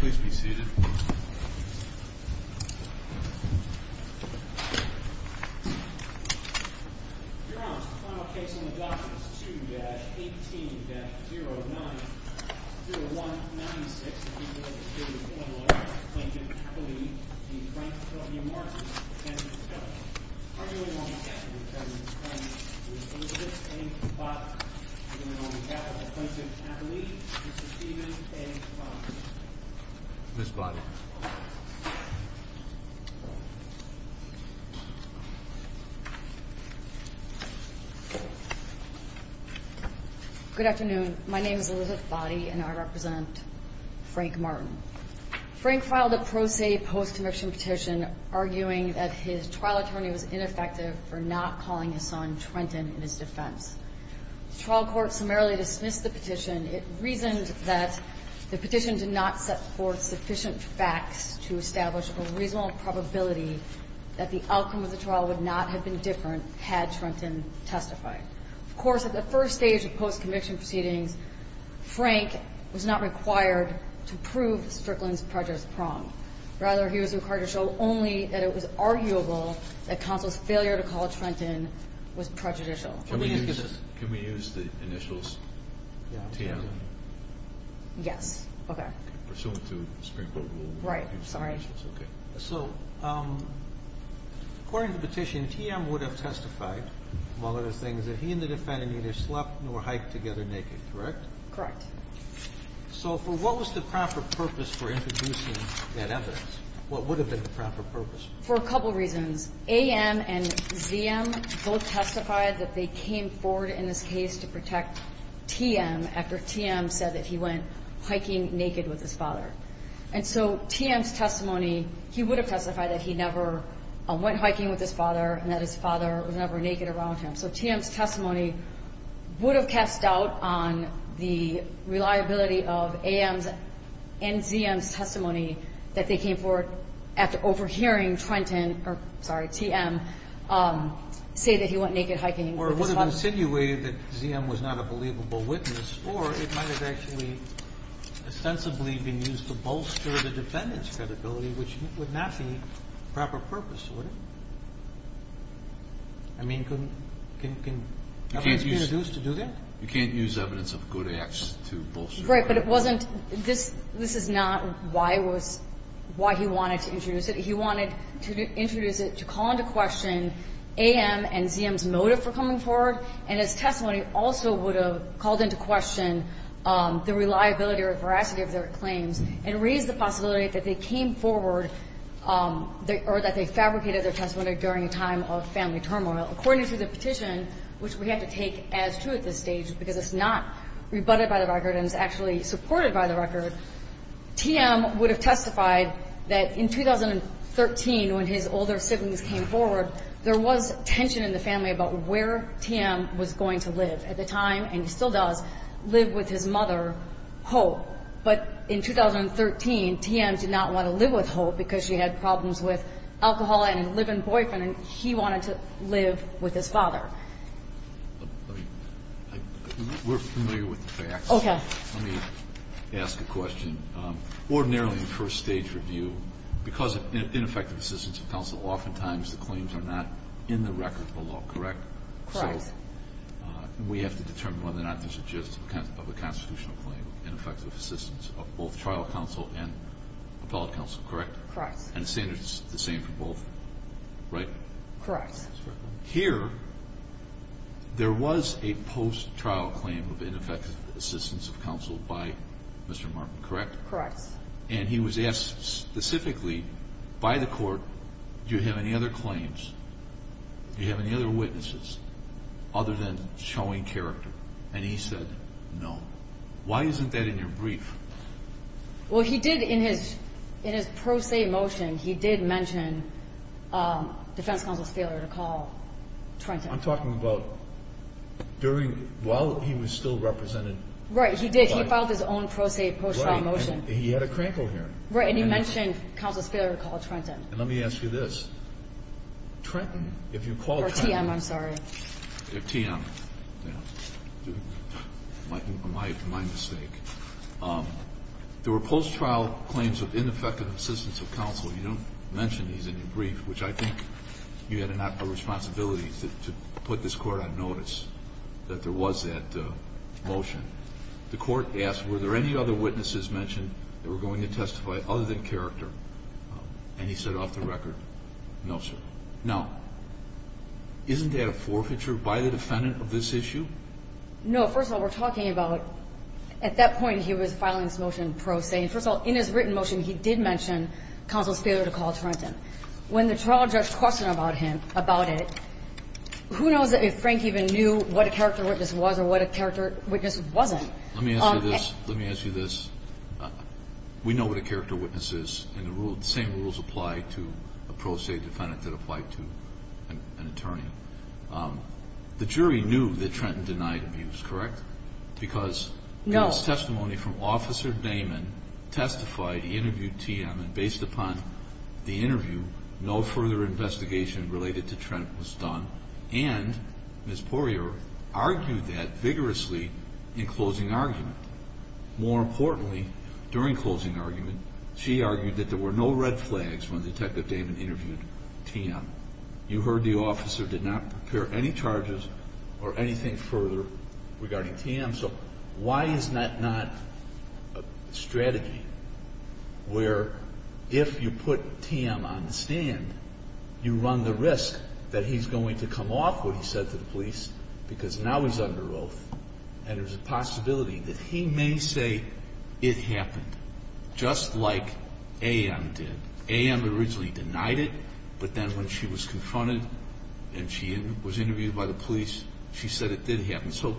Please be seated. Your Honor, the final case on the docket is 2-18-09-0196. The defendant is a 21-year-old plaintiff, Appellee v. Franklin v. Martin, 10-12. Arguing on the death of the defendant's friend is Elizabeth A. Boddy. Arguing on the death of the plaintiff, Appellee v. Stephen A. Boddy. Ms. Boddy. Good afternoon. My name is Elizabeth Boddy, and I represent Frank Martin. Frank filed a pro se post-conviction petition arguing that his trial attorney was ineffective for not calling his son Trenton in his defense. The trial court summarily dismissed the petition. It reasoned that the petition did not set forth sufficient facts to establish a reasonable probability that the outcome of the trial would not have been different had Trenton testified. Of course, at the first stage of post-conviction proceedings, Frank was not required to prove Strickland's prejudice prong. Rather, he was required to show only that it was arguable that counsel's failure to call Trenton was prejudicial. Can we use the initials TM? Yes. Okay. Pursuant to Supreme Court rule. Right. Sorry. Okay. So according to the petition, TM would have testified, among other things, that he and the defendant neither slept nor hiked together naked, correct? Correct. So for what was the proper purpose for introducing that evidence? What would have been the proper purpose? For a couple reasons. AM and ZM both testified that they came forward in this case to protect TM after TM said that he went hiking naked with his father. And so TM's testimony, he would have testified that he never went hiking with his father and that his father was never naked around him. So TM's testimony would have cast doubt on the reliability of AM's and ZM's testimony that they came forward after overhearing Trenton, or sorry, TM, say that he went naked hiking with his father. Or it would have insinuated that ZM was not a believable witness, or it might have actually ostensibly been used to bolster the defendant's credibility, which would not be proper purpose, would it? I mean, can evidence be used to do that? You can't use evidence of good acts to bolster. Right. But it wasn't this is not why he wanted to introduce it. He wanted to introduce it to call into question AM and ZM's motive for coming forward, and his testimony also would have called into question the reliability or veracity of their claims and raised the possibility that they came forward or that they fabricated their testimony during a time of family turmoil. According to the petition, which we have to take as true at this stage, because it's not rebutted by the record and is actually supported by the record, TM would have testified that in 2013, when his older siblings came forward, there was tension in the family about where TM was going to live. At the time, and he still does, live with his mother, Hope. But in 2013, TM did not want to live with Hope because she had problems with alcohol and a live-in boyfriend, and he wanted to live with his father. We're familiar with the facts. Okay. Let me ask a question. Ordinarily in first-stage review, because of ineffective assistance of counsel, oftentimes the claims are not in the record of the law, correct? Correct. So we have to determine whether or not this is just a constitutional claim, ineffective assistance of both trial counsel and appellate counsel, correct? Correct. And the same for both, right? Correct. Here, there was a post-trial claim of ineffective assistance of counsel by Mr. Martin, correct? Correct. And he was asked specifically by the court, do you have any other claims, do you have any other witnesses other than showing character? And he said no. Why isn't that in your brief? Well, he did in his pro se motion, he did mention defense counsel's failure to call Trenton. I'm talking about during, while he was still represented. Right. He did. He filed his own pro se post-trial motion. Right. And he had a crankle here. Right. And he mentioned counsel's failure to call Trenton. And let me ask you this. Trenton, if you call Trenton. Or TM, I'm sorry. TM. Yeah. My mistake. There were post-trial claims of ineffective assistance of counsel. You don't mention these in your brief, which I think you had a responsibility to put this court on notice that there was that motion. The court asked, were there any other witnesses mentioned that were going to testify other than character? And he said off the record, no, sir. Now, isn't that a forfeiture by the defendant of this issue? No. First of all, we're talking about at that point he was filing his motion pro se. First of all, in his written motion, he did mention counsel's failure to call Trenton. When the trial judge questioned about him, about it, who knows if Frank even knew what a character witness was or what a character witness wasn't. Let me ask you this. Let me ask you this. We know what a character witness is. And the same rules apply to a pro se defendant that apply to an attorney. The jury knew that Trenton denied abuse, correct? Because in his testimony from Officer Damon testified, he interviewed TM, and based upon the interview, no further investigation related to Trent was done. And Ms. Poirier argued that vigorously in closing argument. More importantly, during closing argument, she argued that there were no red flags when Detective Damon interviewed TM. You heard the officer did not prepare any charges or anything further regarding TM. So why is that not a strategy where if you put TM on the stand, you run the risk that he's going to come off what he said to the police because now he's under oath. And there's a possibility that he may say it happened just like AM did. AM originally denied it, but then when she was confronted and she was interviewed by the police, she said it did happen. So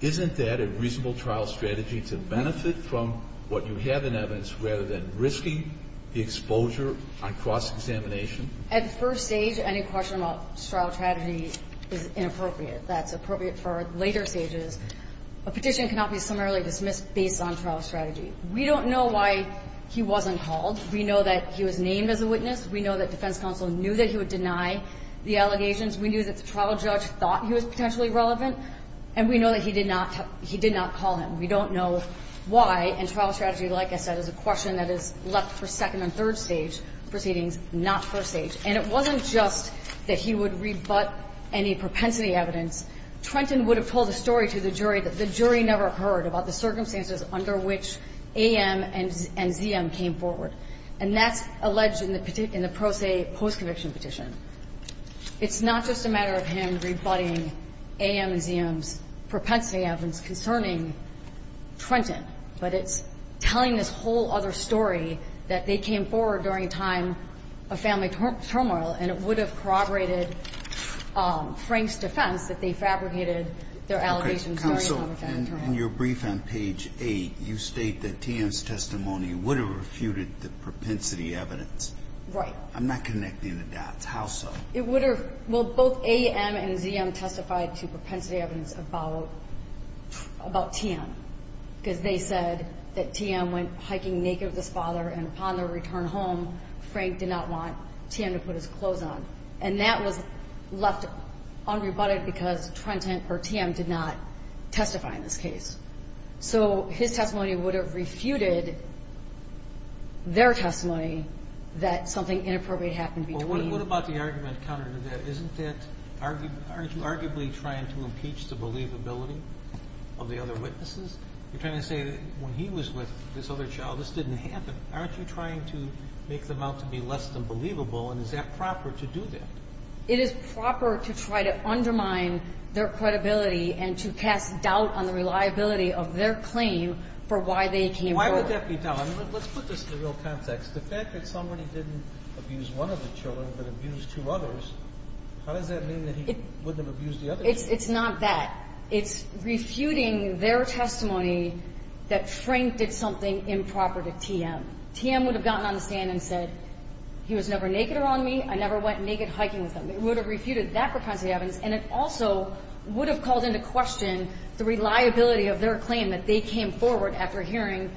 isn't that a reasonable trial strategy to benefit from what you have in evidence rather than risking the exposure on cross-examination? At first stage, any question about trial strategy is inappropriate. That's appropriate for later stages. A petition cannot be summarily dismissed based on trial strategy. We don't know why he wasn't called. We know that he was named as a witness. We know that defense counsel knew that he would deny the allegations. We knew that the trial judge thought he was potentially relevant. And we know that he did not call him. We don't know why. And trial strategy, like I said, is a question that is left for second and third stage proceedings, not first stage. And it wasn't just that he would rebut any propensity evidence. Trenton would have told a story to the jury that the jury never heard about the circumstances under which AM and ZM came forward. And that's alleged in the pro se post-conviction petition. It's not just a matter of him rebutting AM and ZM's propensity evidence concerning Trenton, but it's telling this whole other story that they came forward during a time of turmoil, and it would have corroborated Frank's defense that they fabricated their allegations during a time of turmoil. In your brief on page 8, you state that TM's testimony would have refuted the propensity evidence. Right. I'm not connecting the dots. How so? It would have. Well, both AM and ZM testified to propensity evidence about TM, because they said that TM went hiking naked with his father, and upon their return home, Frank did not want TM to put his clothes on. And that was left unrebutted because Trenton or TM did not testify in this case. So his testimony would have refuted their testimony that something inappropriate happened between them. Well, what about the argument counter to that? Isn't that argued – aren't you arguably trying to impeach the believability of the other witnesses? You're trying to say that when he was with this other child, this didn't happen. Aren't you trying to make them out to be less than believable, and is that proper to do that? It is proper to try to undermine their credibility and to cast doubt on the reliability of their claim for why they came forward. Why would that be doubt? I mean, let's put this in the real context. The fact that somebody didn't abuse one of the children but abused two others, how does that mean that he wouldn't have abused the other children? It's not that. It's refuting their testimony that Frank did something improper to TM. TM would have gotten on the stand and said, he was never naked around me. I never went naked hiking with him. It would have refuted that propensity evidence, and it also would have called into question the reliability of their claim that they came forward after hearing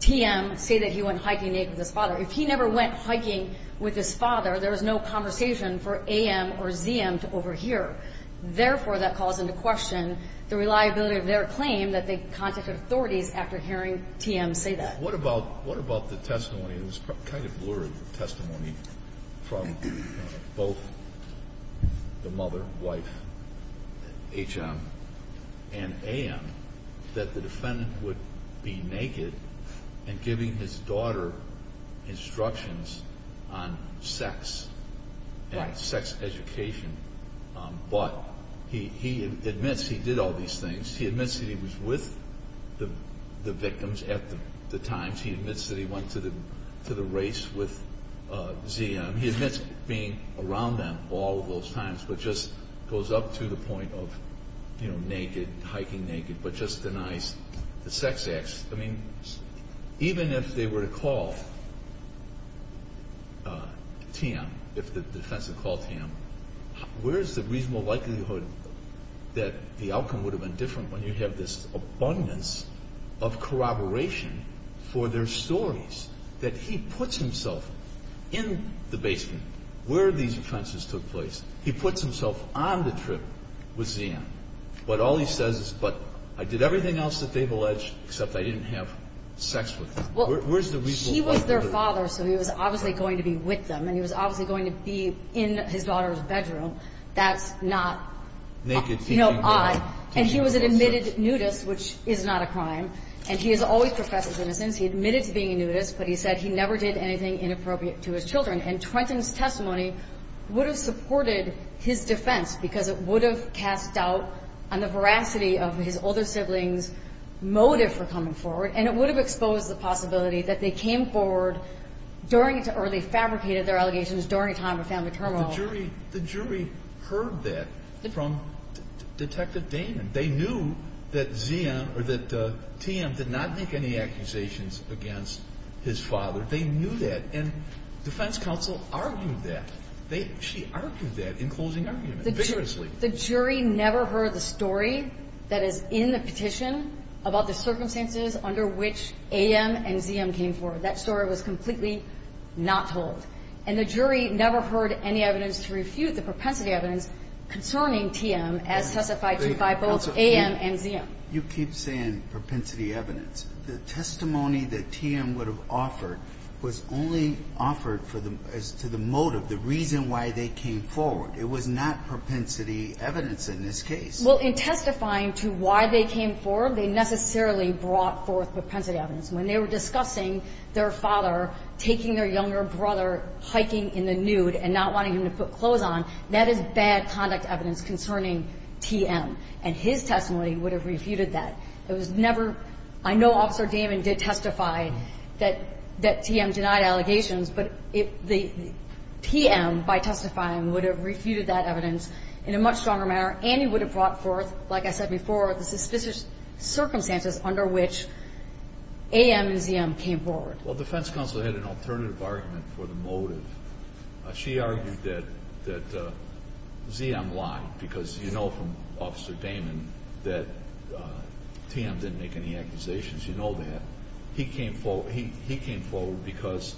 TM say that he went hiking naked with his father. If he never went hiking with his father, there was no conversation for AM or ZM to overhear. Therefore, that calls into question the reliability of their claim that they contacted authorities after hearing TM say that. What about the testimony that was kind of blurred testimony from both the mother, wife, HM, and AM that the defendant would be naked and giving his daughter instructions on sex and sex education, but he admits he did all these things. He admits that he was with the victims at the time. He admits that he went to the race with ZM. He admits being around them all of those times, but just goes up to the point of naked, hiking naked, but just denies the sex acts. I mean, even if they were to call TM, if the defense had called TM, where is the reasonable likelihood that the outcome would have been different when you have this abundance of corroboration for their stories, that he puts himself in the basement where these offenses took place. He puts himself on the trip with ZM, but all he says is, but I did everything else that they've alleged except I didn't have sex with them. Where's the reasonable likelihood? Well, he was their father, so he was obviously going to be with them, and he was obviously going to be in his daughter's bedroom. That's not, you know, odd. And he was an admitted nudist, which is not a crime. And he has always professed his innocence. He admitted to being a nudist, but he said he never did anything inappropriate to his children. And Trenton's testimony would have supported his defense because it would have cast doubt on the veracity of his older siblings' motive for coming forward, and it would have exposed the possibility that they came forward during or they fabricated their allegations during a time of family turmoil. But the jury heard that from Detective Damon. They knew that ZM or that TM did not make any accusations against his father. They knew that. And defense counsel argued that. She argued that in closing argument vigorously. The jury never heard the story that is in the petition about the circumstances under which AM and ZM came forward. That story was completely not told. And the jury never heard any evidence to refute the propensity evidence concerning TM as testified to by both AM and ZM. You keep saying propensity evidence. The testimony that TM would have offered was only offered as to the motive, the reason why they came forward. It was not propensity evidence in this case. Well, in testifying to why they came forward, they necessarily brought forth propensity evidence. When they were discussing their father taking their younger brother hiking in the nude and not wanting him to put clothes on, that is bad conduct evidence concerning TM. And his testimony would have refuted that. It was never – I know Officer Damon did testify that TM denied allegations, but TM, by testifying, would have refuted that evidence in a much stronger manner and he would have brought forth, like I said before, the suspicious circumstances under which AM and ZM came forward. Well, defense counsel had an alternative argument for the motive. She argued that ZM lied because you know from Officer Damon that TM didn't make any accusations. You know that. He came forward because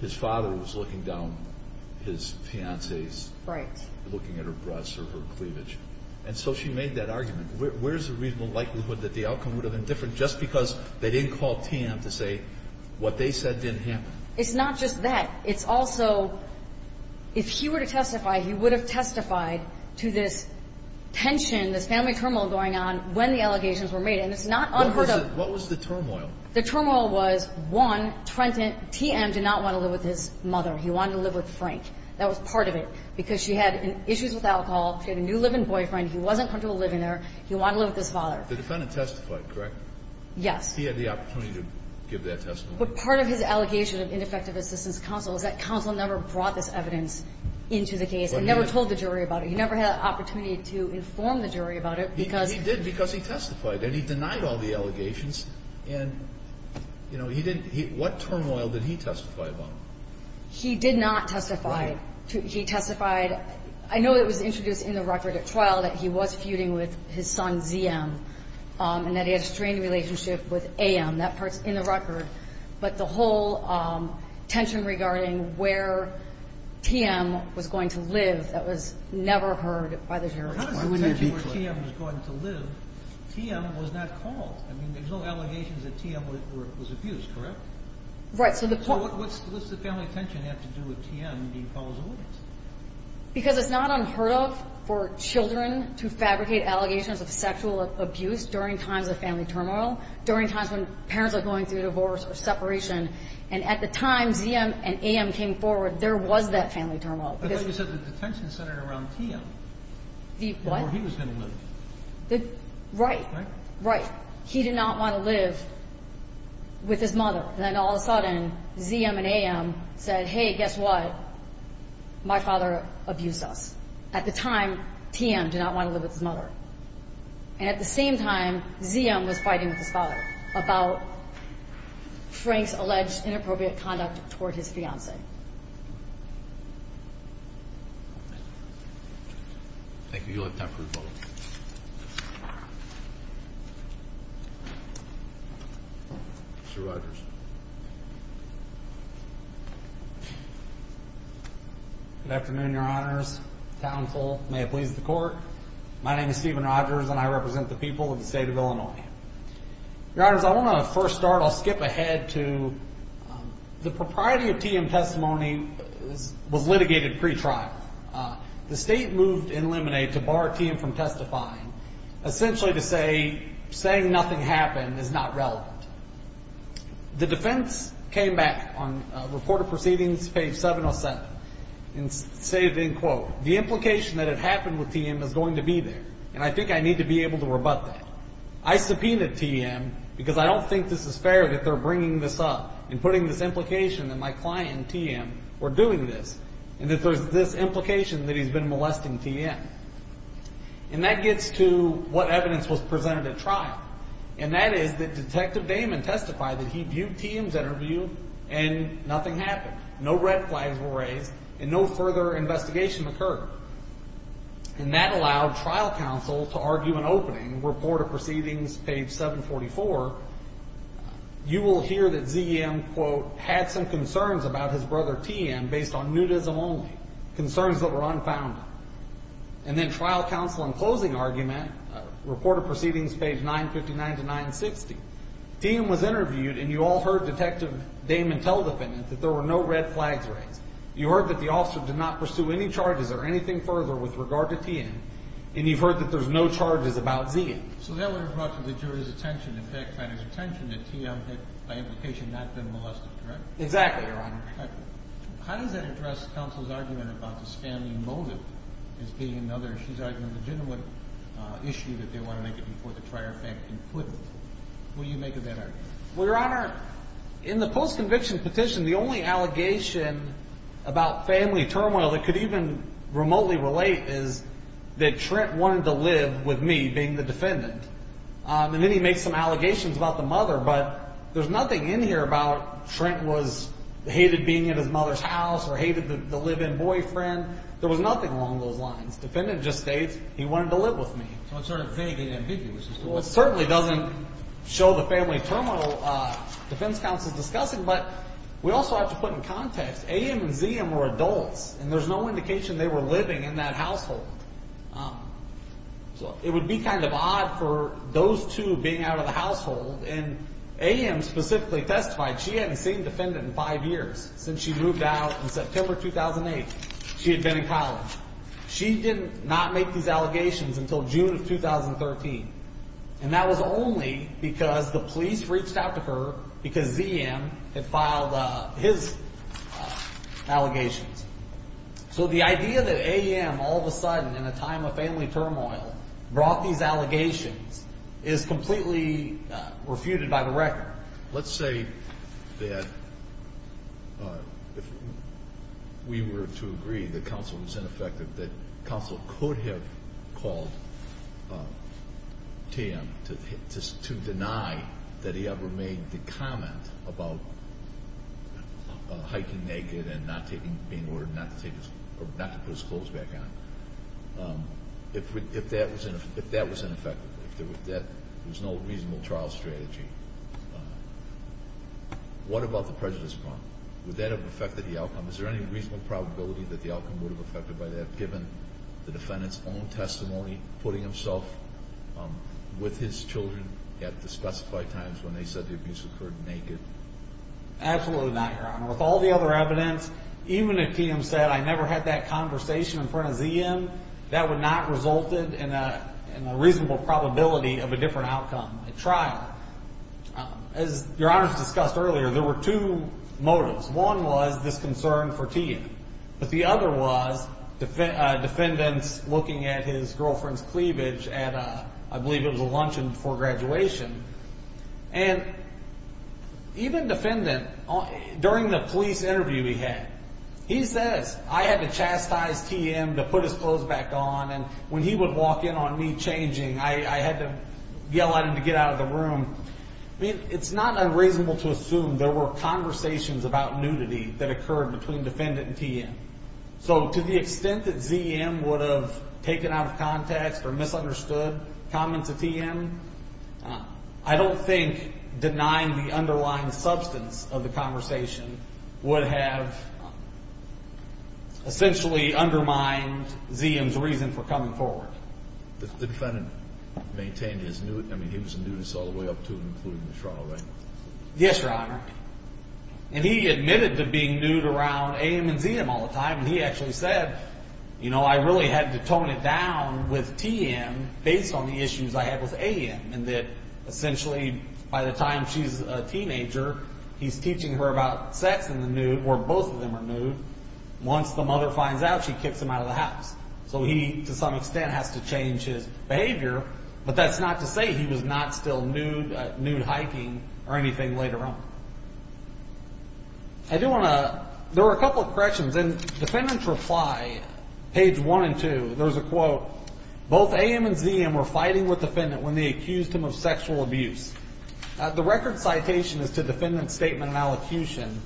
his father was looking down his fiancé's. Right. Looking at her breasts or her cleavage. And so she made that argument. Where is the reasonable likelihood that the outcome would have been different just because they didn't call TM to say what they said didn't happen? It's not just that. It's also if he were to testify, he would have testified to this tension, this family turmoil going on when the allegations were made. And it's not unheard of. What was the turmoil? The turmoil was, one, TM did not want to live with his mother. He wanted to live with Frank. That was part of it because she had issues with alcohol. She had a new live-in boyfriend. He wasn't comfortable living there. He wanted to live with his father. The defendant testified, correct? Yes. He had the opportunity to give that testimony. But part of his allegation of ineffective assistance counsel is that counsel never brought this evidence into the case and never told the jury about it. He never had an opportunity to inform the jury about it because he did. He did because he testified, and he denied all the allegations. And, you know, what turmoil did he testify about? He did not testify. He testified. I know it was introduced in the record at trial that he was feuding with his son, ZM, and that he had a strained relationship with AM. That part's in the record. But the whole tension regarding where TM was going to live, that was never heard by the jury. How does the tension where TM was going to live, TM was not called? I mean, there's no allegations that TM was abused, correct? Right. So what's the family tension have to do with TM being called a witness? Because it's not unheard of for children to fabricate allegations of sexual abuse during times of family turmoil, during times when parents are going through divorce or separation. And at the time ZM and AM came forward, there was that family turmoil. I thought you said the tension centered around TM. The what? Where he was going to live. Right. Right. He did not want to live with his mother. Then all of a sudden ZM and AM said, hey, guess what, my father abused us. At the time, TM did not want to live with his mother. And at the same time, ZM was fighting with his father about Frank's alleged inappropriate conduct toward his fiancée. Thank you. You'll have time for a vote. Mr. Rogers. Good afternoon, Your Honors, counsel. May it please the Court. My name is Stephen Rogers, and I represent the people of the state of Illinois. Your Honors, I want to first start, I'll skip ahead to the propriety of TM testimony was litigated pretrial. The state moved in limine to bar TM from testifying, essentially to say saying nothing happened is not relevant. The defense came back on Report of Proceedings, page 707, and stated, and I quote, the implication that it happened with TM is going to be there, and I think I need to be able to rebut that. I subpoenaed TM because I don't think this is fair that they're bringing this up and putting this implication that my client, TM, were doing this, and that there's this implication that he's been molesting TM. And that gets to what evidence was presented at trial, and that is that Detective Damon testified that he viewed TM's interview and nothing happened. No red flags were raised, and no further investigation occurred. And that allowed trial counsel to argue an opening, Report of Proceedings, page 744. You will hear that ZM, quote, had some concerns about his brother, TM, based on nudism only, concerns that were unfounded. And then trial counsel in closing argument, Report of Proceedings, page 959 to 960. TM was interviewed, and you all heard Detective Damon tell the defendant that there were no red flags raised. You heard that the officer did not pursue any charges or anything further with regard to TM, and you've heard that there's no charges about ZM. So that would have brought to the jury's attention, the fact finder's attention, that TM had, by implication, not been molested, correct? Exactly, Your Honor. How does that address counsel's argument about the spammy motive as being another, she's arguing, legitimate issue that they want to make it before the trial, in fact, concluded? Will you make of that argument? Well, Your Honor, in the post-conviction petition, the only allegation about family turmoil that could even remotely relate is that Trent wanted to live with me, being the defendant. And then he made some allegations about the mother, but there's nothing in here about Trent hated being at his mother's house or hated the live-in boyfriend. There was nothing along those lines. The defendant just states he wanted to live with me. So it's sort of vague and ambiguous. Well, it certainly doesn't show the family turmoil defense counsel's discussing, but we also have to put in context, AM and ZM were adults, and there's no indication they were living in that household. So it would be kind of odd for those two being out of the household, and AM specifically testified she hadn't seen the defendant in five years since she moved out in September 2008. She had been in college. She did not make these allegations until June of 2013, and that was only because the police reached out to her because ZM had filed his allegations. So the idea that AM all of a sudden, in a time of family turmoil, brought these allegations is completely refuted by the record. Let's say that if we were to agree that counsel was ineffective, that counsel could have called TM to deny that he ever made the comment about hiking naked and being ordered not to put his clothes back on, if that was ineffective, if there was no reasonable trial strategy. What about the prejudice prompt? Would that have affected the outcome? Is there any reasonable probability that the outcome would have affected by that, given the defendant's own testimony, putting himself with his children at the specified times when they said the abuse occurred naked? Absolutely not, Your Honor. With all the other evidence, even if TM said, I never had that conversation in front of ZM, that would not have resulted in a reasonable probability of a different outcome at trial. As Your Honor has discussed earlier, there were two motives. One was this concern for TM, but the other was defendants looking at his girlfriend's cleavage at, I believe, it was a luncheon before graduation. And even defendant, during the police interview he had, he says, I had to chastise TM to put his clothes back on, and when he would walk in on me changing, I had to yell at him to get out of the room. I mean, it's not unreasonable to assume there were conversations about nudity that occurred between defendant and TM. So to the extent that ZM would have taken out of context or misunderstood comments of TM, I don't think denying the underlying substance of the conversation would have essentially undermined ZM's reason for coming forward. The defendant maintained his nudity. I mean, he was a nudist all the way up to and including the trial, right? Yes, Your Honor. And he admitted to being nude around AM and ZM all the time, and he actually said, you know, I really had to tone it down with TM based on the issues I had with AM, and that essentially by the time she's a teenager, he's teaching her about sex and the nude, or both of them are nude. Once the mother finds out, she kicks him out of the house. So he, to some extent, has to change his behavior, but that's not to say he was not still nude, nude-hyping or anything later on. I do want to – there were a couple of corrections, and defendants reply, page 1 and 2. There was a quote, both AM and ZM were fighting with the defendant when they accused him of sexual abuse. The record citation is to defendant's statement and allocution.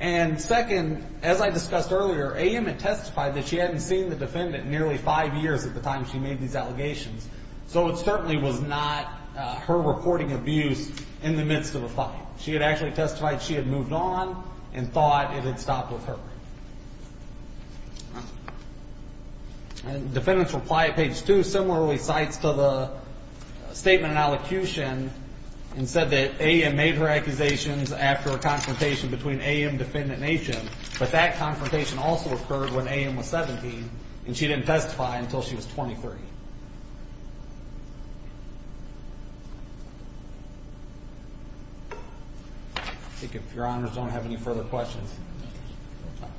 And second, as I discussed earlier, AM had testified that she hadn't seen the defendant in nearly five years at the time she made these allegations, so it certainly was not her reporting abuse in the midst of a fight. She had actually testified she had moved on and thought it had stopped with her. And defendants reply, page 2, similarly cites to the statement and allocution and said that AM made her accusations after a confrontation between AM and Defendant Nation, but that confrontation also occurred when AM was 17, and she didn't testify until she was 23. I think if Your Honors don't have any further questions.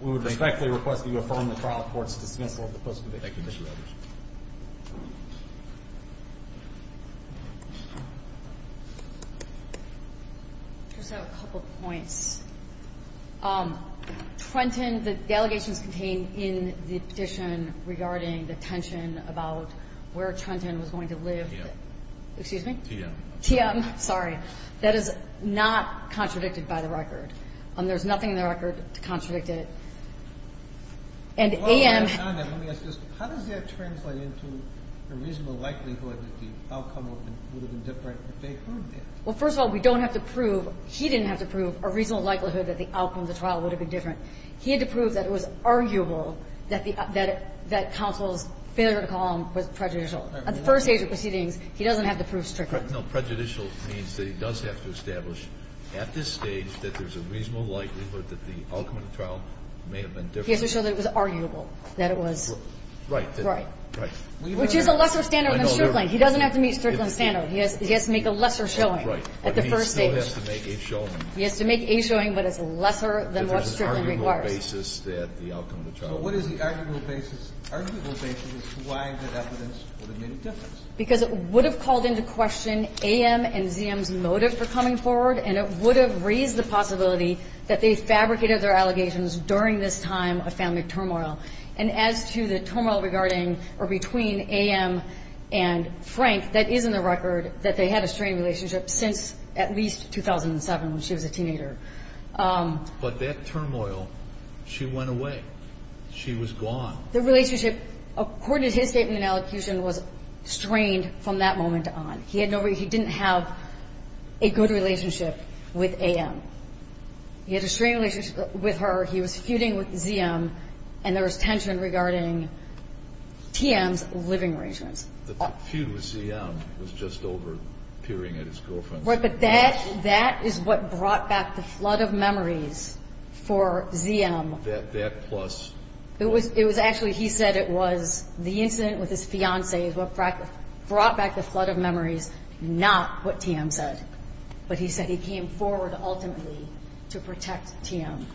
We would respectfully request that you affirm the trial court's dismissal of the post-conviction. Thank you, Mr. Rogers. Just have a couple of points. Trenton, the allegations contained in the petition regarding the tension about where Trenton was going to live. TM. Excuse me? TM. TM, sorry. That is not contradicted by the record. There's nothing in the record to contradict it. And AM. Hold on. Let me ask this. How does that translate into a reasonable likelihood that the outcome would have been different if they had proved it? Well, first of all, we don't have to prove he didn't have to prove a reasonable likelihood that the outcome of the trial would have been different. He had to prove that it was arguable that counsel's failure to call him was prejudicial. At the first stage of proceedings, he doesn't have to prove strictness. No, prejudicial means that he does have to establish at this stage that there's a reasonable likelihood that the outcome of the trial may have been different. He has to show that it was arguable, that it was right. Right. Which is a lesser standard than Strickland. He doesn't have to meet Strickland's standard. He has to make a lesser showing at the first stage. Right. But he still has to make a showing. He has to make a showing, but it's lesser than what Strickland requires. Because there's an arguable basis that the outcome of the trial would have been different. So what is the arguable basis? Arguable basis is why the evidence would have made a difference. Because it would have called into question A.M. and Z.M.'s motive for coming forward, and it would have raised the possibility that they fabricated their allegations during this time of family turmoil. And as to the turmoil regarding or between A.M. and Frank, that is in the record that they had a strained relationship since at least 2007, when she was a teenager. But that turmoil, she went away. She was gone. The relationship, according to his statement in elocution, was strained from that moment on. He didn't have a good relationship with A.M. He had a strained relationship with her. He was feuding with Z.M., and there was tension regarding T.M.'s living arrangements. The feud with Z.M. was just over peering at his girlfriend. Right. But that is what brought back the flood of memories for Z.M. That plus. It was actually he said it was the incident with his fiancée brought back the flood of memories, not what T.M. said. But he said he came forward ultimately to protect T.M.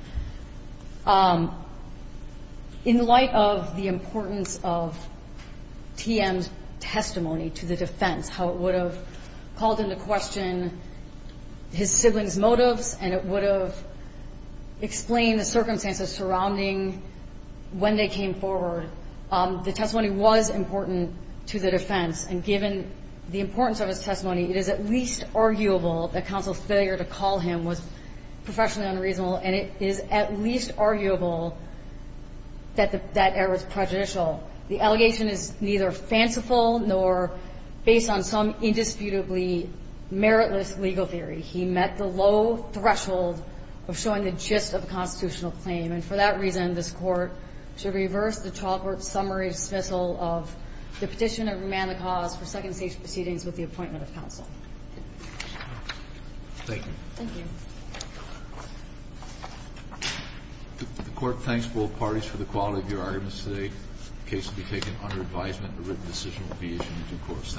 In light of the importance of T.M.'s testimony to the defense, how it would have called into question his siblings' motives, and it would have explained the circumstances surrounding when they came forward, the testimony was important to the defense. And given the importance of his testimony, it is at least arguable that counsel's failure to call him was professionally unreasonable, and it is at least arguable that that error was prejudicial. The allegation is neither fanciful nor based on some indisputably meritless legal theory. He met the low threshold of showing the gist of a constitutional claim. And for that reason, this Court should reverse the chalkwork summary dismissal of the petition of remand of cause for second stage proceedings with the appointment of counsel. Thank you. Thank you. The Court thanks both parties for the quality of your arguments today. The case will be taken under advisement. A written decision will be issued in due course. Thank you.